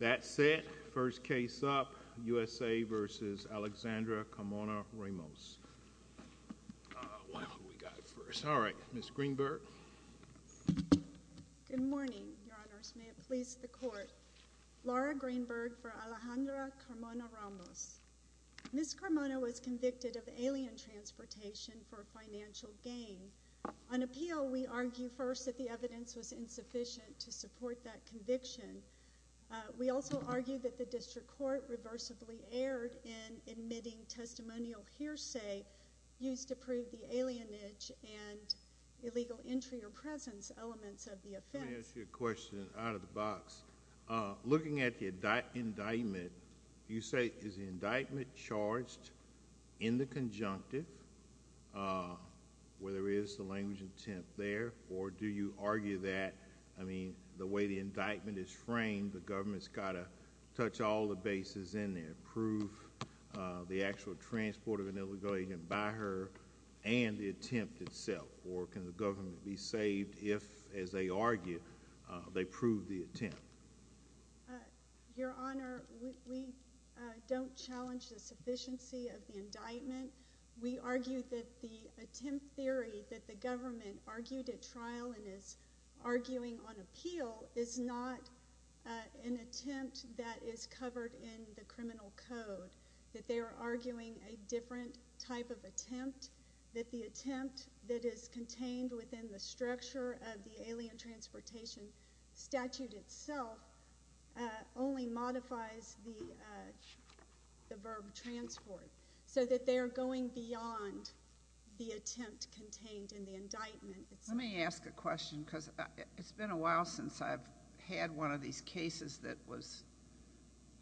That said, first case up, USA v. Alexandra Carmona-Ramos. Alright, Ms. Greenberg. Good morning, Your Honors. May it please the Court. Laura Greenberg for Alejandra Carmona-Ramos. Ms. Carmona was convicted of alien transportation for financial gain. On appeal, we argue first that the evidence was insufficient to support that conviction. We also argue that the District Court reversibly erred in admitting testimonial hearsay used to prove the alienage and illegal entry or presence elements of the offense. Let me ask you a question out of the box. Looking at the indictment, you say, is the indictment charged in the conjunctive, where there is the language intent there, or do you argue that, I mean, the way the indictment is framed, the government's got to touch all the bases in there, prove the actual transport of an illegal alien by her and the attempt itself, or can the government be saved if, as they argue, they prove the attempt? Your Honor, we don't challenge the sufficiency of the indictment. We argue that the attempt theory that the government argued at trial and is arguing on appeal is not an attempt that is covered in the criminal code, that they are arguing a different type of attempt, that the attempt that is contained within the structure of the alien transportation statute itself only modifies the verb transport, so that they are going beyond the attempt contained in the indictment. Let me ask a question because it's been a while since I've had one of these cases that was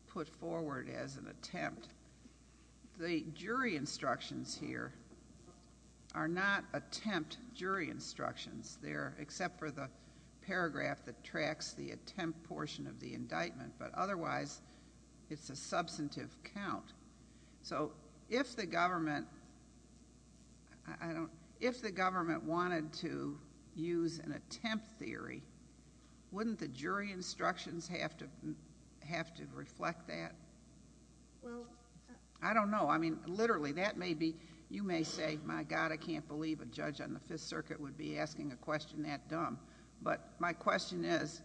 put forward as an attempt. The jury instructions here are not attempt jury instructions. They're except for the paragraph that tracks the attempt portion of the indictment, but otherwise it's a substantive count. So if the government wanted to use an attempt theory, wouldn't the jury instructions have to reflect that? I don't know. I mean, literally, you may say, my God, I can't believe a judge on the Fifth Circuit would be asking a question that dumb, but my question is,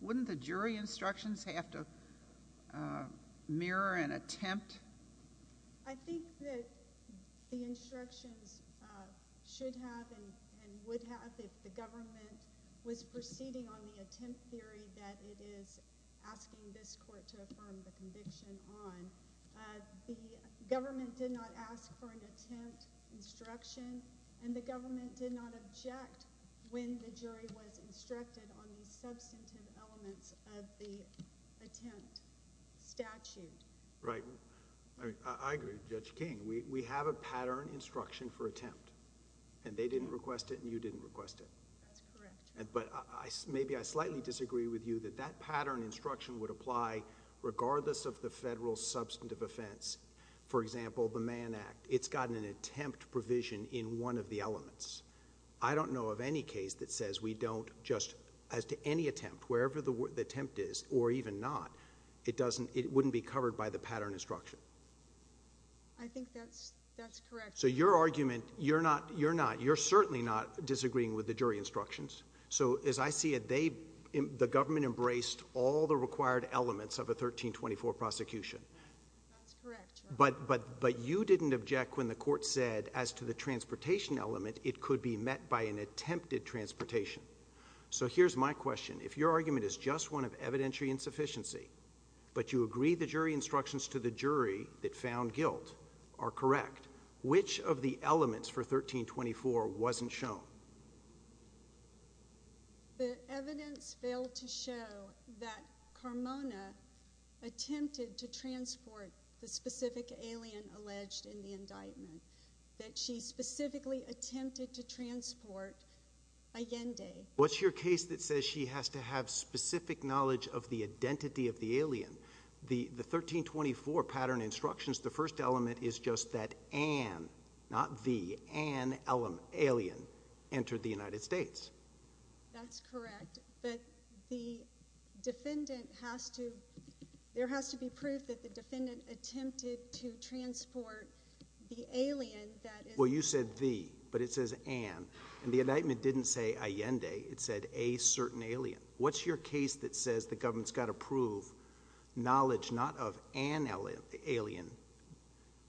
wouldn't the jury instructions have to mirror an attempt? I think that the instructions should have and would have if the government was proceeding on the attempt theory that it is asking this court to affirm the conviction on. The government did not ask for an attempt instruction, and the government did not object when the jury was instructed on the substantive elements of the attempt statute. Right. I agree with Judge King. We have a pattern instruction for attempt, and they didn't request it and you didn't request it. That's correct. But maybe I slightly disagree with you that that pattern instruction would apply regardless of the federal substantive offense. For example, the Mann Act, it's got an attempt provision in one of the elements. I don't know of any case that says we don't just, as to any attempt, wherever the attempt is or even not, it wouldn't be covered by the pattern instruction. I think that's correct. So your argument, you're not, you're certainly not disagreeing with the jury instructions. So as I see it, the government embraced all the required elements of a 1324 prosecution. That's correct, Your Honor. But you didn't object when the court said as to the transportation element, it could be met by an attempted transportation. So here's my question. If your argument is just one of evidentiary insufficiency, but you agree the jury instructions to the jury that found guilt are correct, which of the elements for 1324 wasn't shown? The evidence failed to show that Carmona attempted to transport the specific alien alleged in the indictment, that she specifically attempted to transport Allende. What's your case that says she has to have specific knowledge of the identity of the alien? The 1324 pattern instructions, the first element is just that Ann, not the, Ann alien entered the United States. That's correct. But the defendant has to, there has to be proof that the defendant attempted to transport the alien that is. Well, you said the, but it says Ann. And the indictment didn't say Allende. It said a certain alien. What's your case that says the government's got to prove knowledge not of Ann alien,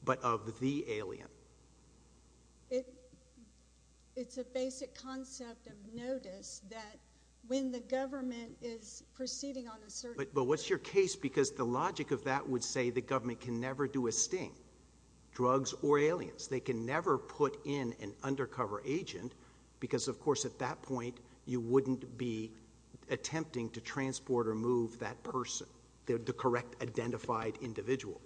but of the alien? It's a basic concept of notice that when the government is proceeding on a certain. But what's your case? Because the logic of that would say the government can never do a sting, drugs or aliens. They can never put in an undercover agent because, of course, at that point you wouldn't be attempting to transport or move that person. The correct identified individual.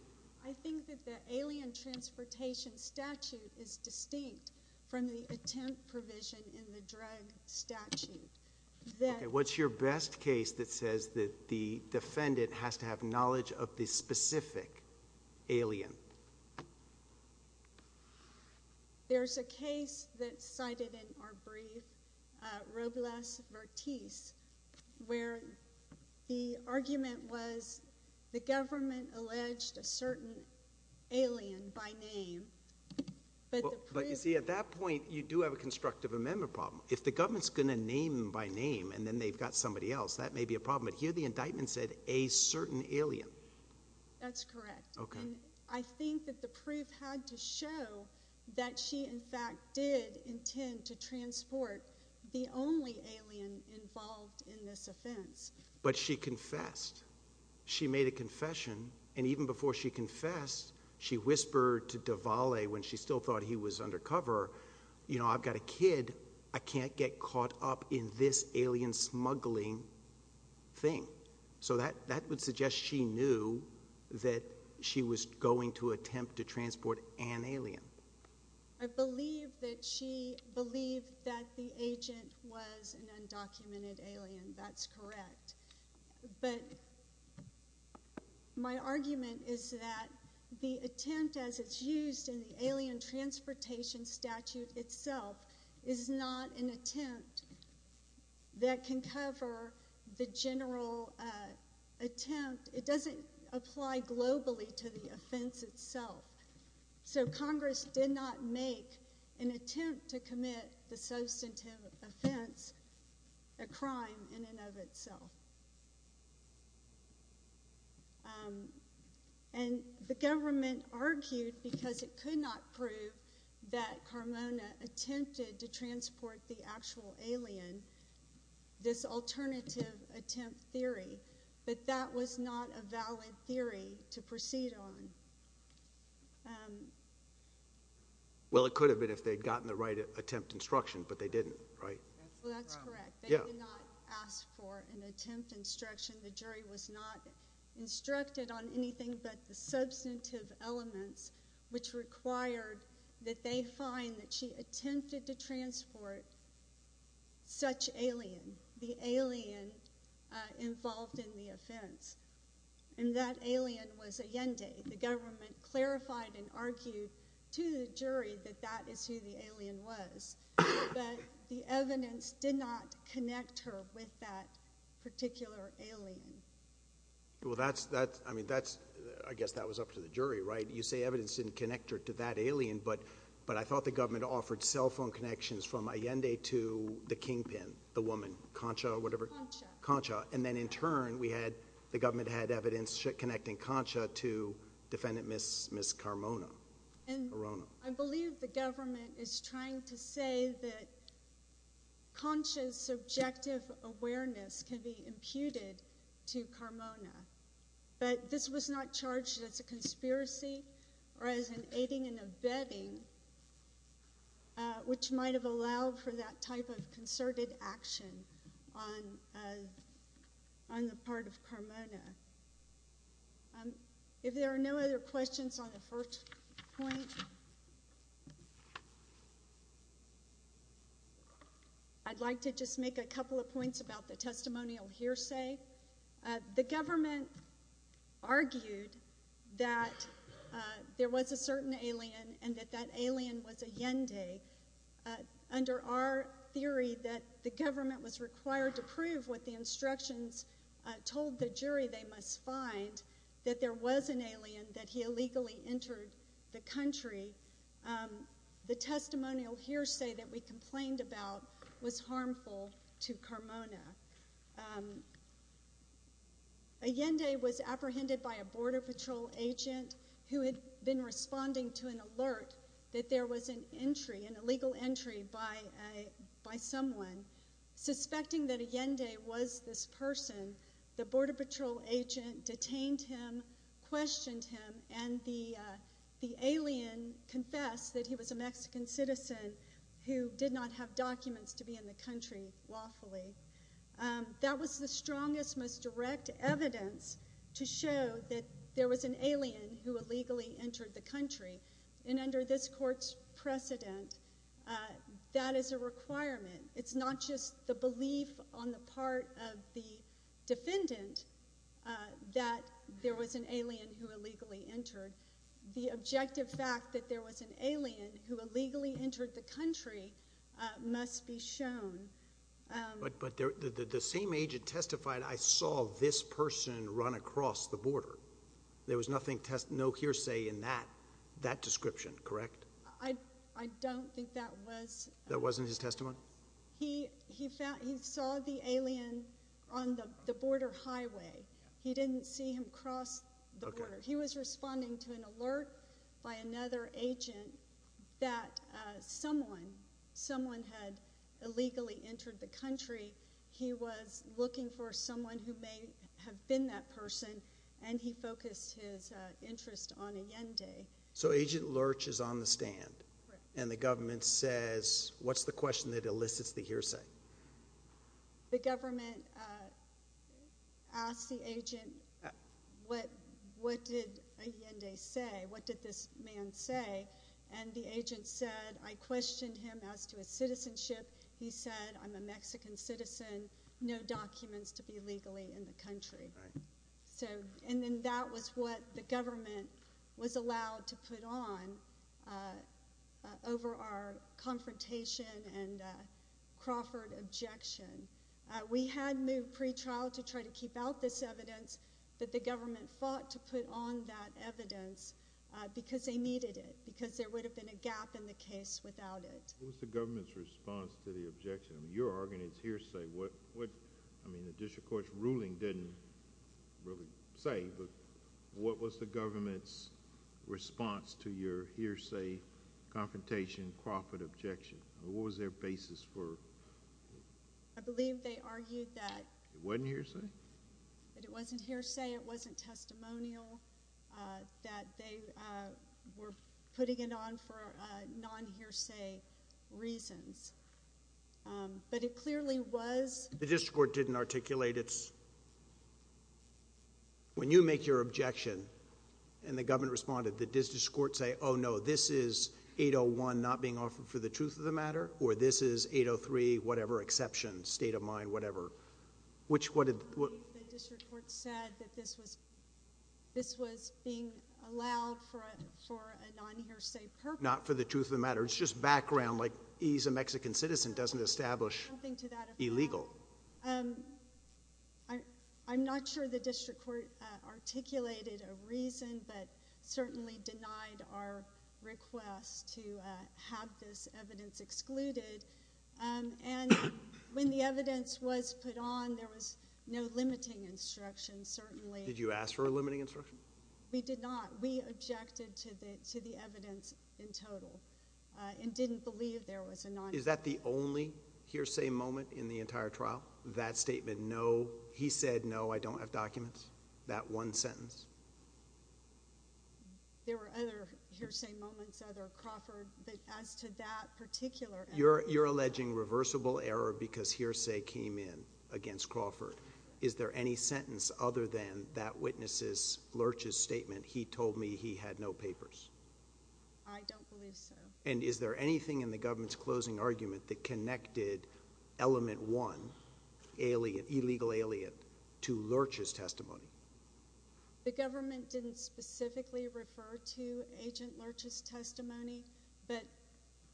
I think that the alien transportation statute is distinct from the attempt provision in the drug statute. What's your best case that says that the defendant has to have knowledge of the specific alien? There's a case that's cited in our brief, Robles-Vartis, where the argument was the government alleged a certain alien by name. But the proof. You see, at that point you do have a constructive amendment problem. If the government's going to name them by name and then they've got somebody else, that may be a problem. But here the indictment said a certain alien. That's correct. Okay. And I think that the proof had to show that she, in fact, did intend to transport the only alien involved in this offense. But she confessed. She made a confession. And even before she confessed, she whispered to Davale when she still thought he was undercover, you know, I've got a kid. I can't get caught up in this alien smuggling thing. So that would suggest she knew that she was going to attempt to transport an alien. I believe that she believed that the agent was an undocumented alien. That's correct. But my argument is that the attempt, as it's used in the alien transportation statute itself, is not an attempt that can cover the general attempt. It doesn't apply globally to the offense itself. So Congress did not make an attempt to commit the substantive offense a crime in and of itself. And the government argued because it could not prove that Carmona attempted to transport the actual alien, this alternative attempt theory, that that was not a valid theory to proceed on. Well, it could have been if they had gotten the right attempt instruction, but they didn't, right? Well, that's correct. They did not ask for an attempt instruction. The jury was not instructed on anything but the substantive elements, which required that they find that she attempted to transport such alien, the alien involved in the offense. And that alien was Allende. The government clarified and argued to the jury that that is who the alien was. But the evidence did not connect her with that particular alien. Well, that's, I mean, that's, I guess that was up to the jury, right? You say evidence didn't connect her to that alien, but I thought the government offered cell phone connections from Allende to the kingpin, the woman, Concha or whatever. Concha. Concha. And then in turn, we had, the government had evidence connecting Concha to defendant Ms. Carmona. And I believe the government is trying to say that Concha's subjective awareness can be imputed to Carmona. But this was not charged as a conspiracy or as an aiding and abetting, which might have allowed for that type of concerted action on the part of Carmona. If there are no other questions on the first point, I'd like to just make a couple of points about the testimonial hearsay. The government argued that there was a certain alien and that that alien was Allende. Under our theory that the government was required to prove what the instructions told the jury they must find, that there was an alien, that he illegally entered the country, the testimonial hearsay that we complained about was harmful to Carmona. Allende was apprehended by a border patrol agent who had been responding to an alert that there was an entry, an illegal entry by someone. Suspecting that Allende was this person, the border patrol agent detained him, questioned him, and the alien confessed that he was a Mexican citizen who did not have documents to be in the country lawfully. That was the strongest, most direct evidence to show that there was an alien who illegally entered the country. And under this court's precedent, that is a requirement. It's not just the belief on the part of the defendant that there was an alien who illegally entered. The objective fact that there was an alien who illegally entered the country must be shown. But the same agent testified, I saw this person run across the border. There was no hearsay in that description, correct? I don't think that was. That wasn't his testimony? He saw the alien on the border highway. He didn't see him cross the border. He was responding to an alert by another agent that someone, someone had illegally entered the country. He was looking for someone who may have been that person, and he focused his interest on Allende. So Agent Lurch is on the stand, and the government says, what's the question that elicits the hearsay? The government asked the agent, what did Allende say? What did this man say? And the agent said, I questioned him as to his citizenship. He said, I'm a Mexican citizen, no documents to be illegally in the country. And then that was what the government was allowed to put on over our confrontation and Crawford objection. We had moved pretrial to try to keep out this evidence, but the government fought to put on that evidence because they needed it, because there would have been a gap in the case without it. What was the government's response to the objection? I mean, you're arguing it's hearsay. What, I mean, the district court's ruling didn't really say, but what was the government's response to your hearsay, confrontation, Crawford objection? What was their basis for? I believe they argued that. It wasn't hearsay? It wasn't hearsay. It wasn't testimonial. That they were putting it on for non-hearsay reasons. But it clearly was. The district court didn't articulate its. When you make your objection and the government responded, did the district court say, oh, no, this is 801 not being offered for the truth of the matter, or this is 803 whatever exception, state of mind, whatever. I believe the district court said that this was being allowed for a non-hearsay purpose. Not for the truth of the matter. It's just background, like he's a Mexican citizen, doesn't establish illegal. I'm not sure the district court articulated a reason, but certainly denied our request to have this evidence excluded. And when the evidence was put on, there was no limiting instruction, certainly. Did you ask for a limiting instruction? We did not. We objected to the evidence in total and didn't believe there was a non-hearsay. Is that the only hearsay moment in the entire trial? That statement, no. He said, no, I don't have documents. That one sentence. There were other hearsay moments, other Crawford, but as to that particular evidence. You're alleging reversible error because hearsay came in against Crawford. Is there any sentence other than that witness's, Lurch's statement, he told me he had no papers? I don't believe so. And is there anything in the government's closing argument that connected element one, illegal alien, to Lurch's testimony? The government didn't specifically refer to agent Lurch's testimony, but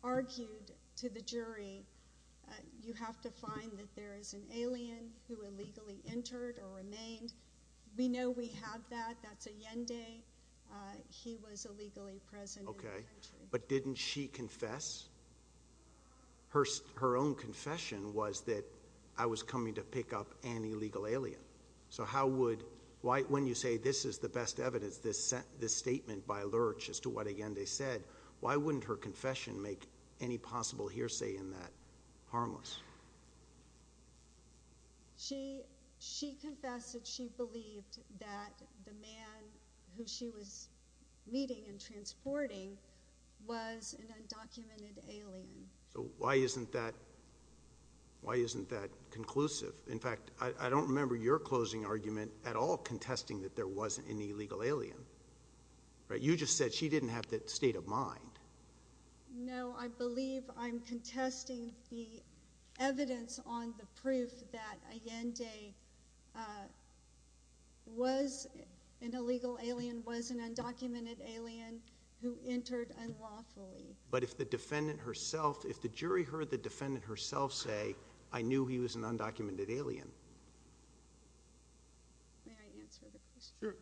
argued to the jury, you have to find that there is an alien who illegally entered or remained. We know we have that. That's Allende. He was illegally present. Okay. But didn't she confess? Her own confession was that I was coming to pick up an illegal alien. So how would, when you say this is the best evidence, this statement by Lurch as to what Allende said, why wouldn't her confession make any possible hearsay in that harmless? She confessed that she believed that the man who she was meeting and transporting was an undocumented alien. So why isn't that conclusive? In fact, I don't remember your closing argument at all contesting that there wasn't an illegal alien. You just said she didn't have that state of mind. No, I believe I'm contesting the evidence on the proof that Allende was an illegal alien, was an undocumented alien who entered unlawfully. But if the defendant herself, if the jury heard the defendant herself say, I knew he was an undocumented alien. May I answer the question? Sure.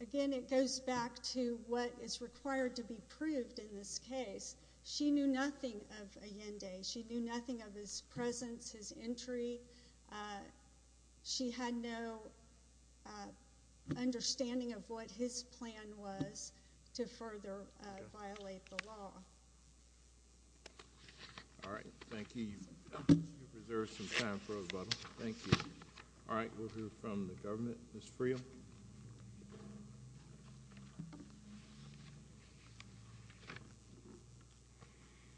Again, it goes back to what is required to be proved in this case. She knew nothing of Allende. She knew nothing of his presence, his entry. She had no understanding of what his plan was to further violate the law. All right. Thank you. You've preserved some time for us, but thank you. All right, we'll hear from the government. Ms. Friel.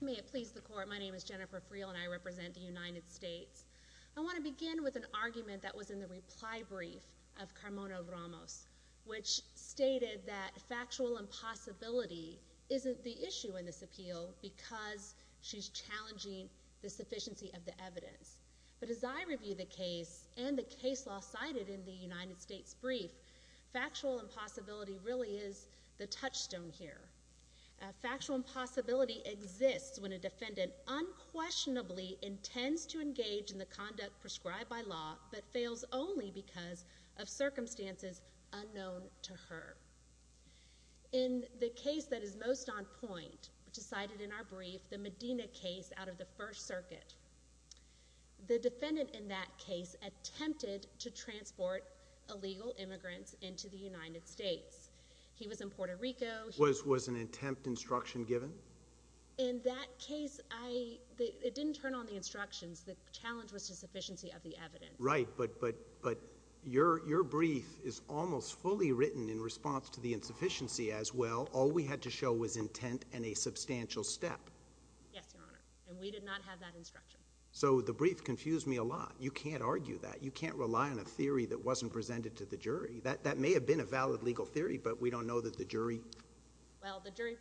May it please the Court, my name is Jennifer Friel, and I represent the United States. I want to begin with an argument that was in the reply brief of Carmona Ramos, which stated that factual impossibility isn't the issue in this appeal because she's challenging the sufficiency of the evidence. But as I review the case and the case law cited in the United States brief, factual impossibility really is the touchstone here. Factual impossibility exists when a defendant unquestionably intends to engage in the conduct prescribed by law but fails only because of circumstances unknown to her. In the case that is most on point, which is cited in our brief, the Medina case out of the First Circuit, the defendant in that case attempted to transport illegal immigrants into the United States. He was in Puerto Rico. Was an attempt instruction given? In that case, it didn't turn on the instructions. The challenge was the sufficiency of the evidence. Right, but your brief is almost fully written in response to the insufficiency as well. All we had to show was intent and a substantial step. Yes, Your Honor, and we did not have that instruction. So the brief confused me a lot. You can't argue that. You can't rely on a theory that wasn't presented to the jury. That may have been a valid legal theory, but we don't know that the jury— Well, the jury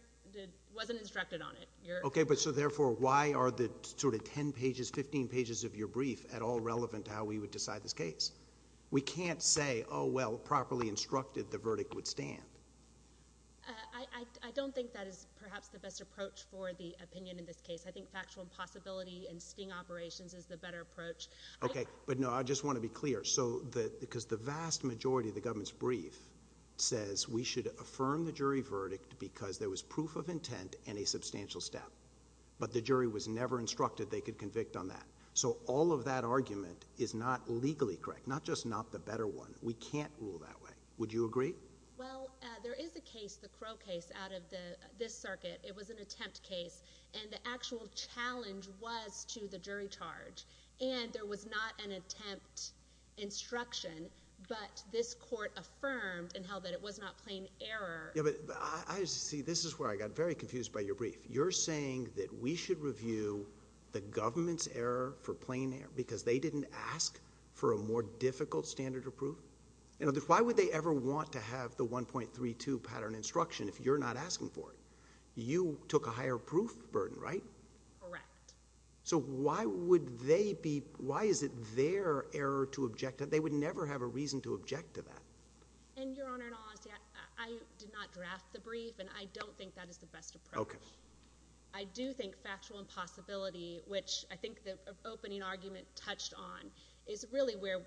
wasn't instructed on it. Okay, but so therefore, why are the sort of 10 pages, 15 pages of your brief at all relevant to how we would decide this case? We can't say, oh, well, properly instructed the verdict would stand. I don't think that is perhaps the best approach for the opinion in this case. I think factual impossibility and sting operations is the better approach. Okay, but no, I just want to be clear. Because the vast majority of the government's brief says we should affirm the jury verdict because there was proof of intent and a substantial step, but the jury was never instructed they could convict on that. So all of that argument is not legally correct, not just not the better one. We can't rule that way. Would you agree? Well, there is a case, the Crow case, out of this circuit. It was an attempt case, and the actual challenge was to the jury charge. And there was not an attempt instruction, but this court affirmed and held that it was not plain error. Yeah, but I see this is where I got very confused by your brief. You're saying that we should review the government's error for plain error because they didn't ask for a more difficult standard of proof? Why would they ever want to have the 1.32 pattern instruction if you're not asking for it? You took a higher proof burden, right? Correct. So why is it their error to object to that? They would never have a reason to object to that. And, Your Honor, in all honesty, I did not draft the brief, and I don't think that is the best approach. Okay. I do think factual impossibility, which I think the opening argument touched on, is really where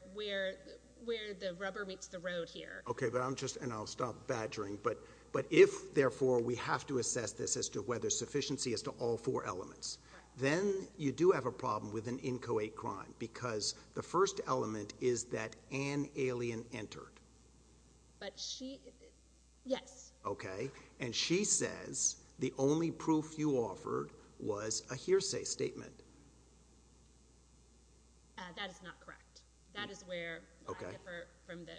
the rubber meets the road here. Okay, and I'll stop badgering, but if, therefore, we have to assess this as to whether sufficiency is to all four elements, then you do have a problem with an inchoate crime because the first element is that an alien entered. But she, yes. Okay. And she says the only proof you offered was a hearsay statement. That is not correct. That is where I differ from the,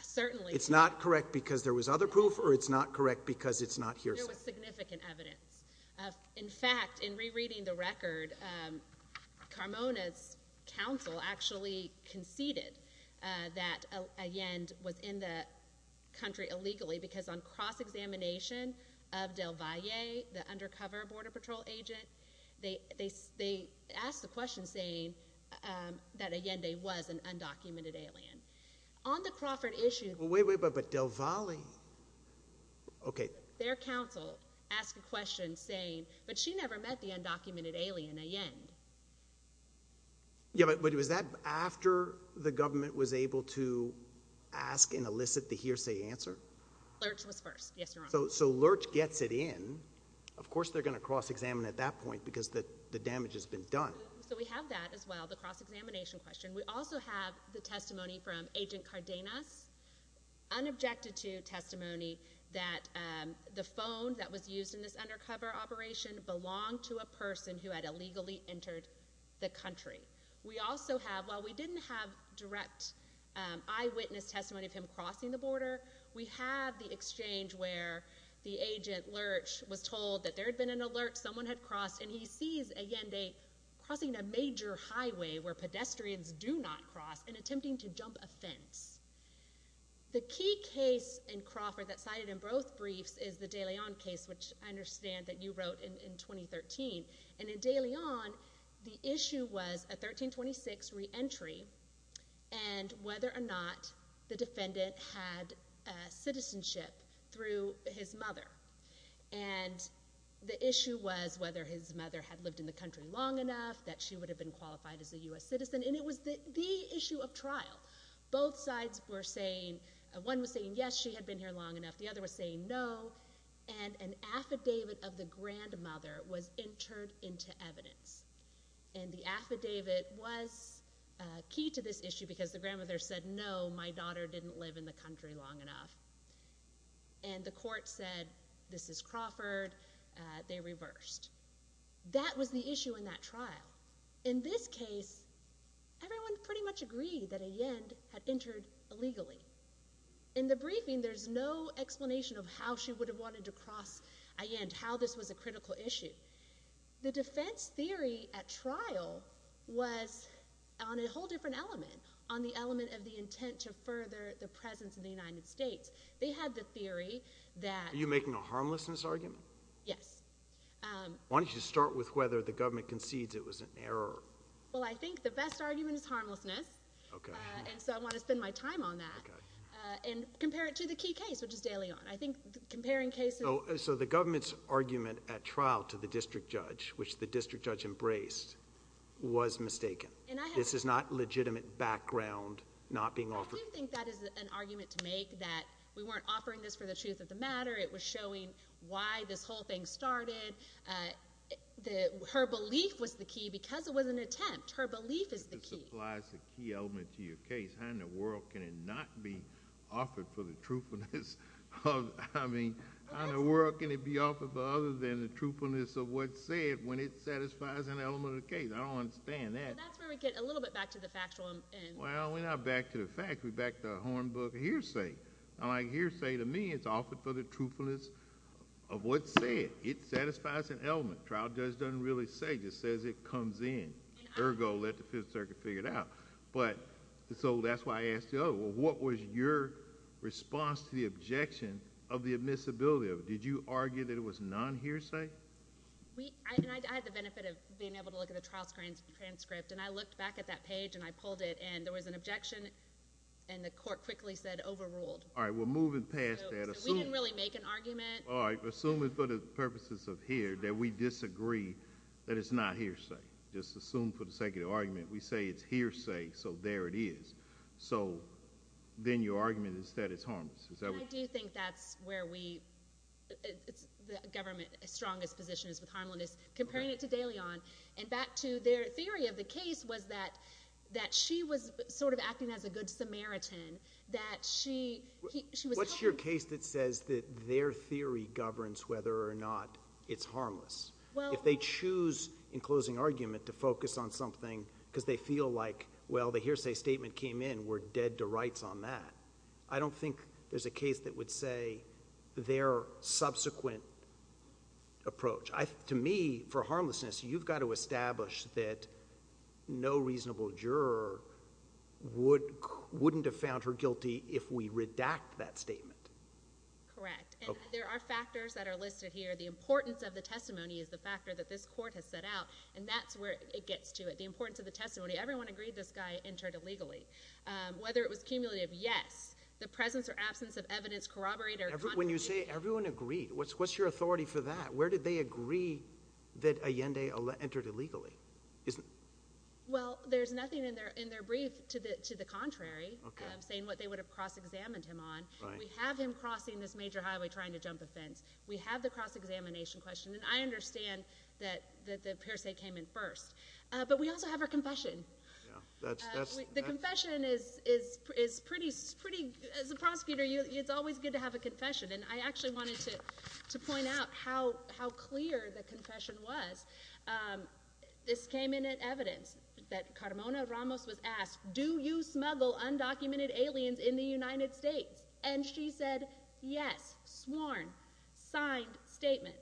certainly. It's not correct because there was other proof, or it's not correct because it's not hearsay? There was significant evidence. In fact, in rereading the record, Carmona's counsel actually conceded that Allende was in the country illegally because on cross-examination of Del Valle, the undercover Border Patrol agent, they asked the question saying that Allende was an undocumented alien. On the Crawford issue. Wait, wait, but Del Valle? Okay. Their counsel asked a question saying, but she never met the undocumented alien, Allende. Yeah, but was that after the government was able to ask and elicit the hearsay answer? Lurch was first. Yes, Your Honor. So Lurch gets it in. Of course they're going to cross-examine at that point because the damage has been done. So we have that as well, the cross-examination question. We also have the testimony from Agent Cardenas, unobjected to testimony that the phone that was used in this undercover operation belonged to a person who had illegally entered the country. We also have, while we didn't have direct eyewitness testimony of him crossing the border, we have the exchange where the agent, Lurch, was told that there had been an alert, someone had crossed, and he sees Allende crossing a major highway where pedestrians do not cross and attempting to jump a fence. The key case in Crawford that's cited in both briefs is the De Leon case, which I understand that you wrote in 2013. And in De Leon, the issue was a 1326 reentry and whether or not the defendant had citizenship through his mother. And the issue was whether his mother had lived in the country long enough, that she would have been qualified as a U.S. citizen. And it was the issue of trial. Both sides were saying, one was saying, yes, she had been here long enough. The other was saying, no. And an affidavit of the grandmother was entered into evidence. And the affidavit was key to this issue because the grandmother said, no, my daughter didn't live in the country long enough. And the court said, this is Crawford. They reversed. That was the issue in that trial. In this case, everyone pretty much agreed that Allende had entered illegally. In the briefing, there's no explanation of how she would have wanted to cross Allende, how this was a critical issue. The defense theory at trial was on a whole different element, on the element of the intent to further the presence of the United States. They had the theory that— Are you making a harmlessness argument? Yes. Why don't you start with whether the government concedes it was an error? Well, I think the best argument is harmlessness. Okay. And so I want to spend my time on that. And compare it to the key case, which is De Leon. I think comparing cases— So the government's argument at trial to the district judge, which the district judge embraced, was mistaken. This is not legitimate background not being offered. I do think that is an argument to make, that we weren't offering this for the truth of the matter. It was showing why this whole thing started. Her belief was the key because it was an attempt. Her belief is the key. But this applies the key element to your case. How in the world can it not be offered for the truthfulness of— I mean, how in the world can it be offered for other than the truthfulness of what's said when it satisfies an element of the case? I don't understand that. That's where we get a little bit back to the factual end. Well, we're not back to the facts. We're back to the hornbook hearsay. I like hearsay to me. It's offered for the truthfulness of what's said. It satisfies an element. Trial judge doesn't really say. Just says it comes in. Ergo, let the Fifth Circuit figure it out. So that's why I asked the other. What was your response to the objection of the admissibility of it? Did you argue that it was non-hearsay? I had the benefit of being able to look at the trial transcript, and I looked back at that page, and I pulled it, and there was an objection, and the court quickly said overruled. All right. We're moving past that. We didn't really make an argument. All right. Assuming for the purposes of here that we disagree that it's not hearsay. Just assume for the sake of the argument we say it's hearsay, so there it is. So then your argument is that it's harmless. I do think that's where the government's strongest position is with harmlessness, comparing it to DeLeon. And back to their theory of the case was that she was sort of acting as a good Samaritan. What's your case that says that their theory governs whether or not it's harmless? If they choose in closing argument to focus on something because they feel like, well, the hearsay statement came in, we're dead to rights on that, I don't think there's a case that would say their subsequent approach. To me, for harmlessness, you've got to establish that no reasonable juror wouldn't have found her guilty if we redact that statement. Correct. And there are factors that are listed here. The importance of the testimony is the factor that this court has set out, and that's where it gets to, the importance of the testimony. Everyone agreed this guy entered illegally. Whether it was cumulative, yes. The presence or absence of evidence corroborate or contradict. When you say everyone agreed, what's your authority for that? Where did they agree that Allende entered illegally? Well, there's nothing in their brief to the contrary, saying what they would have cross-examined him on. We have him crossing this major highway trying to jump a fence. We have the cross-examination question, and I understand that the hearsay came in first. But we also have our confession. The confession is pretty—as a prosecutor, it's always good to have a confession, and I actually wanted to point out how clear the confession was. This came in at evidence, that Carmona Ramos was asked, do you smuggle undocumented aliens in the United States? And she said, yes, sworn, signed statement.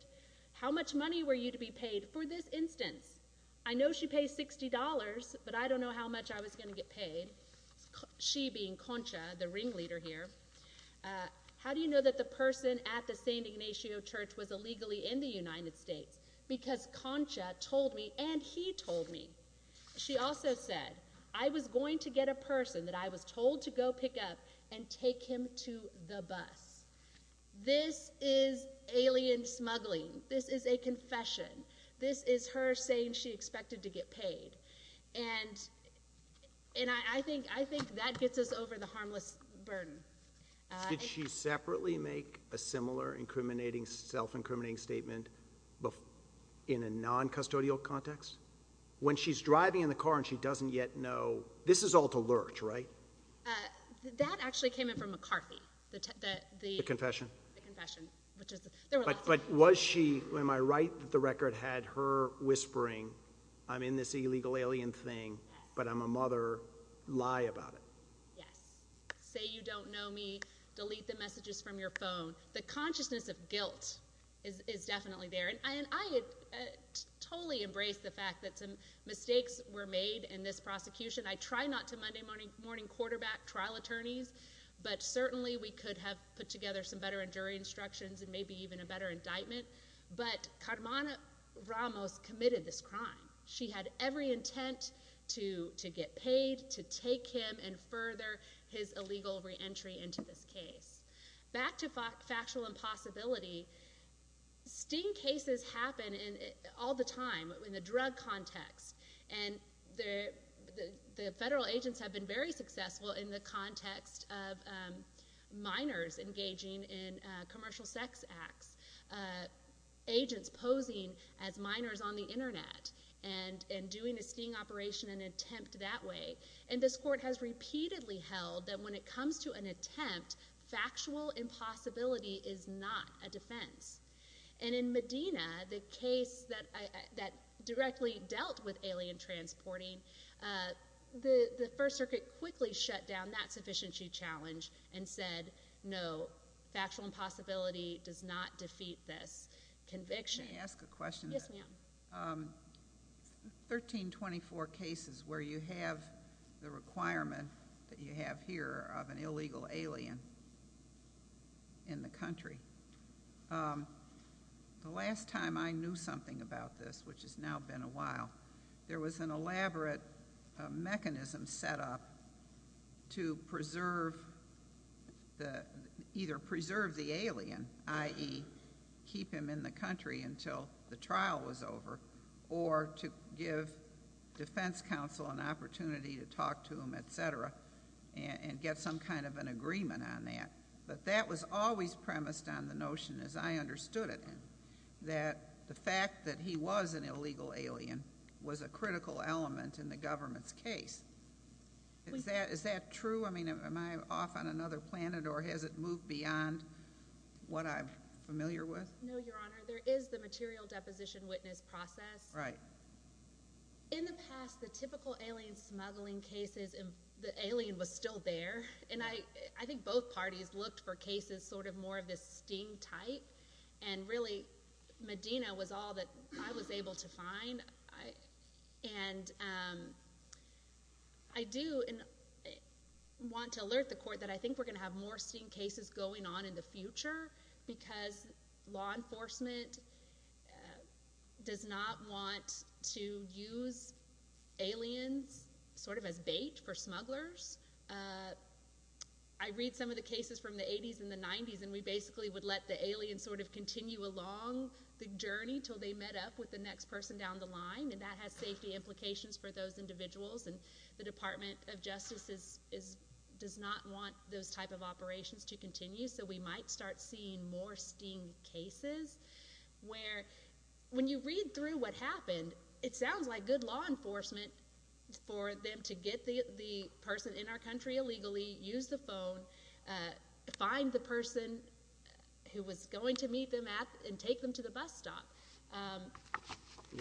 How much money were you to be paid for this instance? I know she pays $60, but I don't know how much I was going to get paid, she being Concha, the ringleader here. How do you know that the person at the San Ignacio church was illegally in the United States? Because Concha told me, and he told me, she also said, I was going to get a person that I was told to go pick up and take him to the bus. This is alien smuggling. This is a confession. This is her saying she expected to get paid. And I think that gets us over the harmless burden. Did she separately make a similar self-incriminating statement in a non-custodial context? When she's driving in the car and she doesn't yet know, this is all to lurch, right? That actually came in from McCarthy. The confession? The confession. But was she, am I right that the record had her whispering, I'm in this illegal alien thing, but I'm a mother, lie about it? Yes. Say you don't know me, delete the messages from your phone. The consciousness of guilt is definitely there. And I totally embrace the fact that some mistakes were made in this prosecution. I try not to Monday morning quarterback trial attorneys, but certainly we could have put together some better jury instructions and maybe even a better indictment. But Carmona Ramos committed this crime. She had every intent to get paid, to take him, and further his illegal reentry into this case. Back to factual impossibility, sting cases happen all the time in the drug context. And the federal agents have been very successful in the context of minors engaging in commercial sex acts, agents posing as minors on the Internet and doing a sting operation, an attempt that way. And this court has repeatedly held that when it comes to an attempt, And in Medina, the case that directly dealt with alien transporting, the First Circuit quickly shut down that sufficiency challenge and said, no, factual impossibility does not defeat this conviction. Can I ask a question? Yes, ma'am. 1324 cases where you have the requirement that you have here of an illegal alien in the country. The last time I knew something about this, which has now been a while, there was an elaborate mechanism set up to either preserve the alien, i.e., keep him in the country until the trial was over, or to give defense counsel an opportunity to talk to him, etc., and get some kind of an agreement on that. But that was always premised on the notion, as I understood it, that the fact that he was an illegal alien was a critical element in the government's case. Is that true? I mean, am I off on another planet, or has it moved beyond what I'm familiar with? No, Your Honor. There is the material deposition witness process. Right. In the past, the typical alien smuggling cases, the alien was still there. And I think both parties looked for cases sort of more of this sting type, and really Medina was all that I was able to find. And I do want to alert the Court that I think we're going to have more sting cases going on in the future because law enforcement does not want to use aliens sort of as bait for smugglers. I read some of the cases from the 80s and the 90s, and we basically would let the alien sort of continue along the journey until they met up with the next person down the line, and that has safety implications for those individuals. And the Department of Justice does not want those type of operations to continue, so we might start seeing more sting cases where when you read through what happened, it sounds like good law enforcement for them to get the person in our country illegally, use the phone, find the person who was going to meet them at and take them to the bus stop.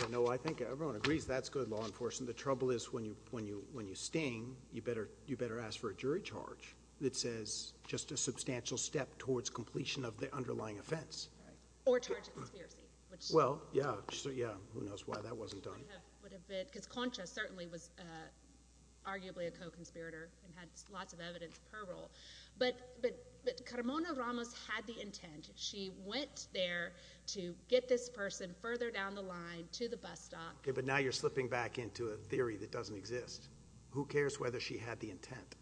No, I think everyone agrees that's good law enforcement. The trouble is when you sting, you better ask for a jury charge that says just a substantial step towards completion of the underlying offense. Or charge a conspiracy. Well, yeah, who knows why that wasn't done. Because Concha certainly was arguably a co-conspirator and had lots of evidence of her role. But Carmona Ramos had the intent. She went there to get this person further down the line to the bus stop. Okay, but now you're slipping back into a theory that doesn't exist. Who cares whether she had the intent?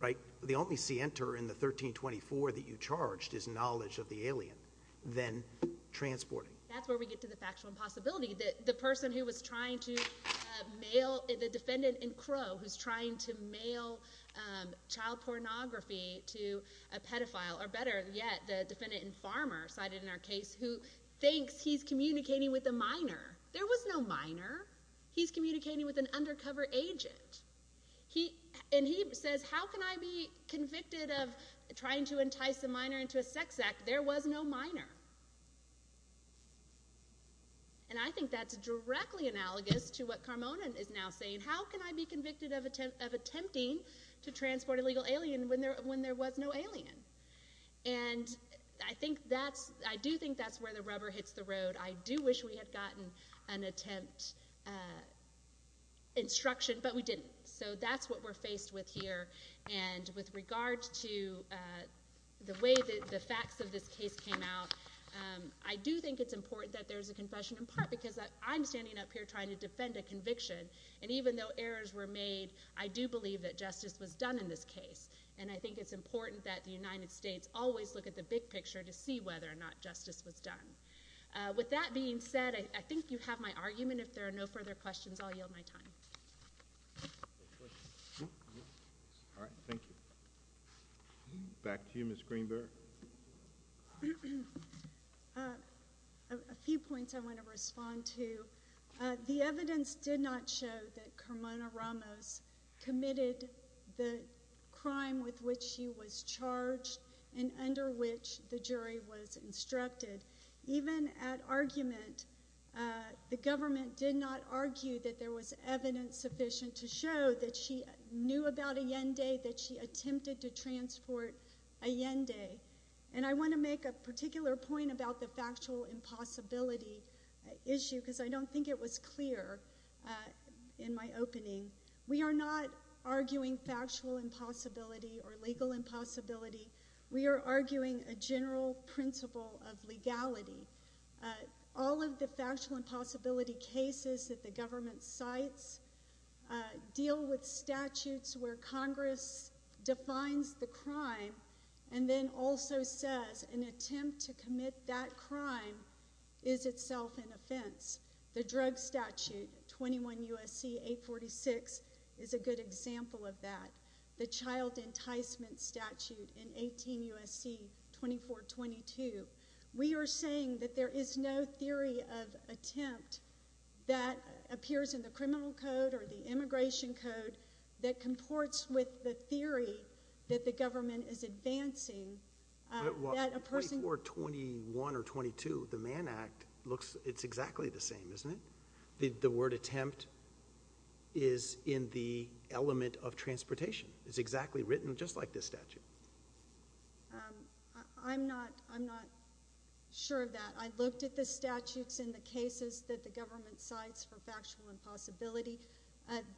Right? The only scienter in the 1324 that you charged is knowledge of the alien. Then transporting. That's where we get to the factual impossibility. The person who was trying to mail the defendant in Crow, who's trying to mail child pornography to a pedophile, or better yet, the defendant and farmer cited in our case, who thinks he's communicating with a minor. There was no minor. He's communicating with an undercover agent. And he says, how can I be convicted of trying to entice a minor into a sex act? There was no minor. And I think that's directly analogous to what Carmona is now saying. How can I be convicted of attempting to transport a legal alien when there was no alien? And I do think that's where the rubber hits the road. I do wish we had gotten an attempt instruction, but we didn't. So that's what we're faced with here. And with regard to the way the facts of this case came out, I do think it's important that there's a confession in part because I'm standing up here trying to defend a conviction. And even though errors were made, I do believe that justice was done in this case. And I think it's important that the United States always look at the big picture to see whether or not justice was done. With that being said, I think you have my argument. If there are no further questions, I'll yield my time. All right, thank you. Back to you, Ms. Greenberg. A few points I want to respond to. The evidence did not show that Carmona Ramos committed the crime with which she was charged and under which the jury was instructed. Even at argument, the government did not argue that there was evidence sufficient to show that she knew about Allende, that she attempted to transport Allende. And I want to make a particular point about the factual impossibility issue because I don't think it was clear in my opening. We are not arguing factual impossibility or legal impossibility. We are arguing a general principle of legality. All of the factual impossibility cases that the government cites deal with statutes where Congress defines the crime and then also says an attempt to commit that crime is itself an offense. The drug statute, 21 U.S.C. 846, is a good example of that. The child enticement statute in 18 U.S.C. 2422. We are saying that there is no theory of attempt that appears in the criminal code or the immigration code that comports with the theory that the government is advancing. Well, 2421 or 22, the Mann Act, it's exactly the same, isn't it? The word attempt is in the element of transportation. It's exactly written just like this statute. I'm not sure of that. I looked at the statutes in the cases that the government cites for factual impossibility.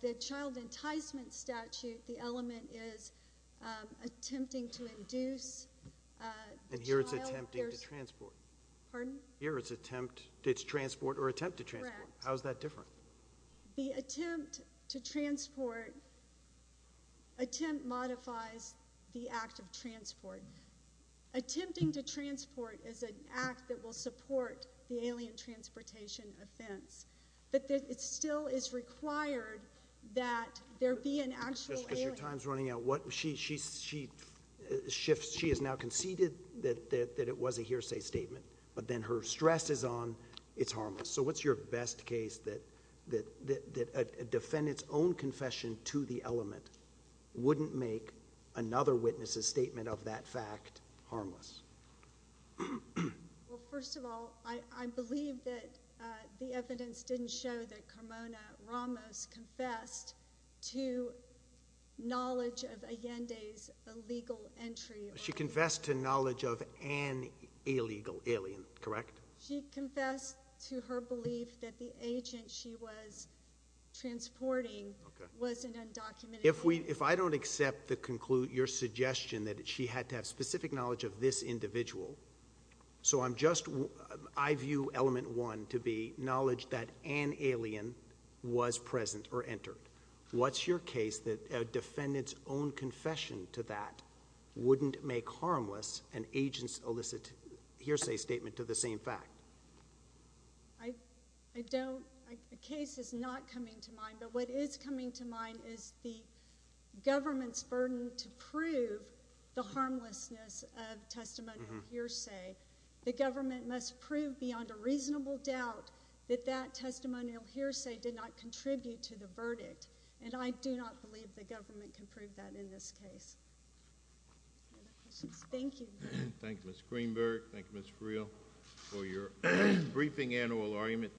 The child enticement statute, the element is attempting to induce the child. And here it's attempting to transport. Pardon? Here it's transport or attempt to transport. Correct. How is that different? The attempt to transport, attempt modifies the act of transport. Attempting to transport is an act that will support the alien transportation offense. But it still is required that there be an actual alien. Just because your time is running out. She shifts. She has now conceded that it was a hearsay statement. But then her stress is on it's harmless. So what's your best case that a defendant's own confession to the element wouldn't make another witness' statement of that fact harmless? Well, first of all, I believe that the evidence didn't show that Carmona Ramos confessed to knowledge of Allende's illegal entry. She confessed to knowledge of an illegal alien, correct? She confessed to her belief that the agent she was transporting was an undocumented. If I don't accept your suggestion that she had to have specific knowledge of this individual, so I'm just, I view element one to be knowledge that an alien was present or entered. What's your case that a defendant's own confession to that wouldn't make harmless an agent's illicit hearsay statement to the same fact? I don't, the case is not coming to mind. But what is coming to mind is the government's burden to prove the harmlessness of testimonial hearsay. The government must prove beyond a reasonable doubt that that testimonial hearsay did not contribute to the verdict. And I do not believe the government can prove that in this case. Any other questions? Thank you. Thank you, Ms. Greenberg. Thank you, Ms. Freel, for your briefing annual argument.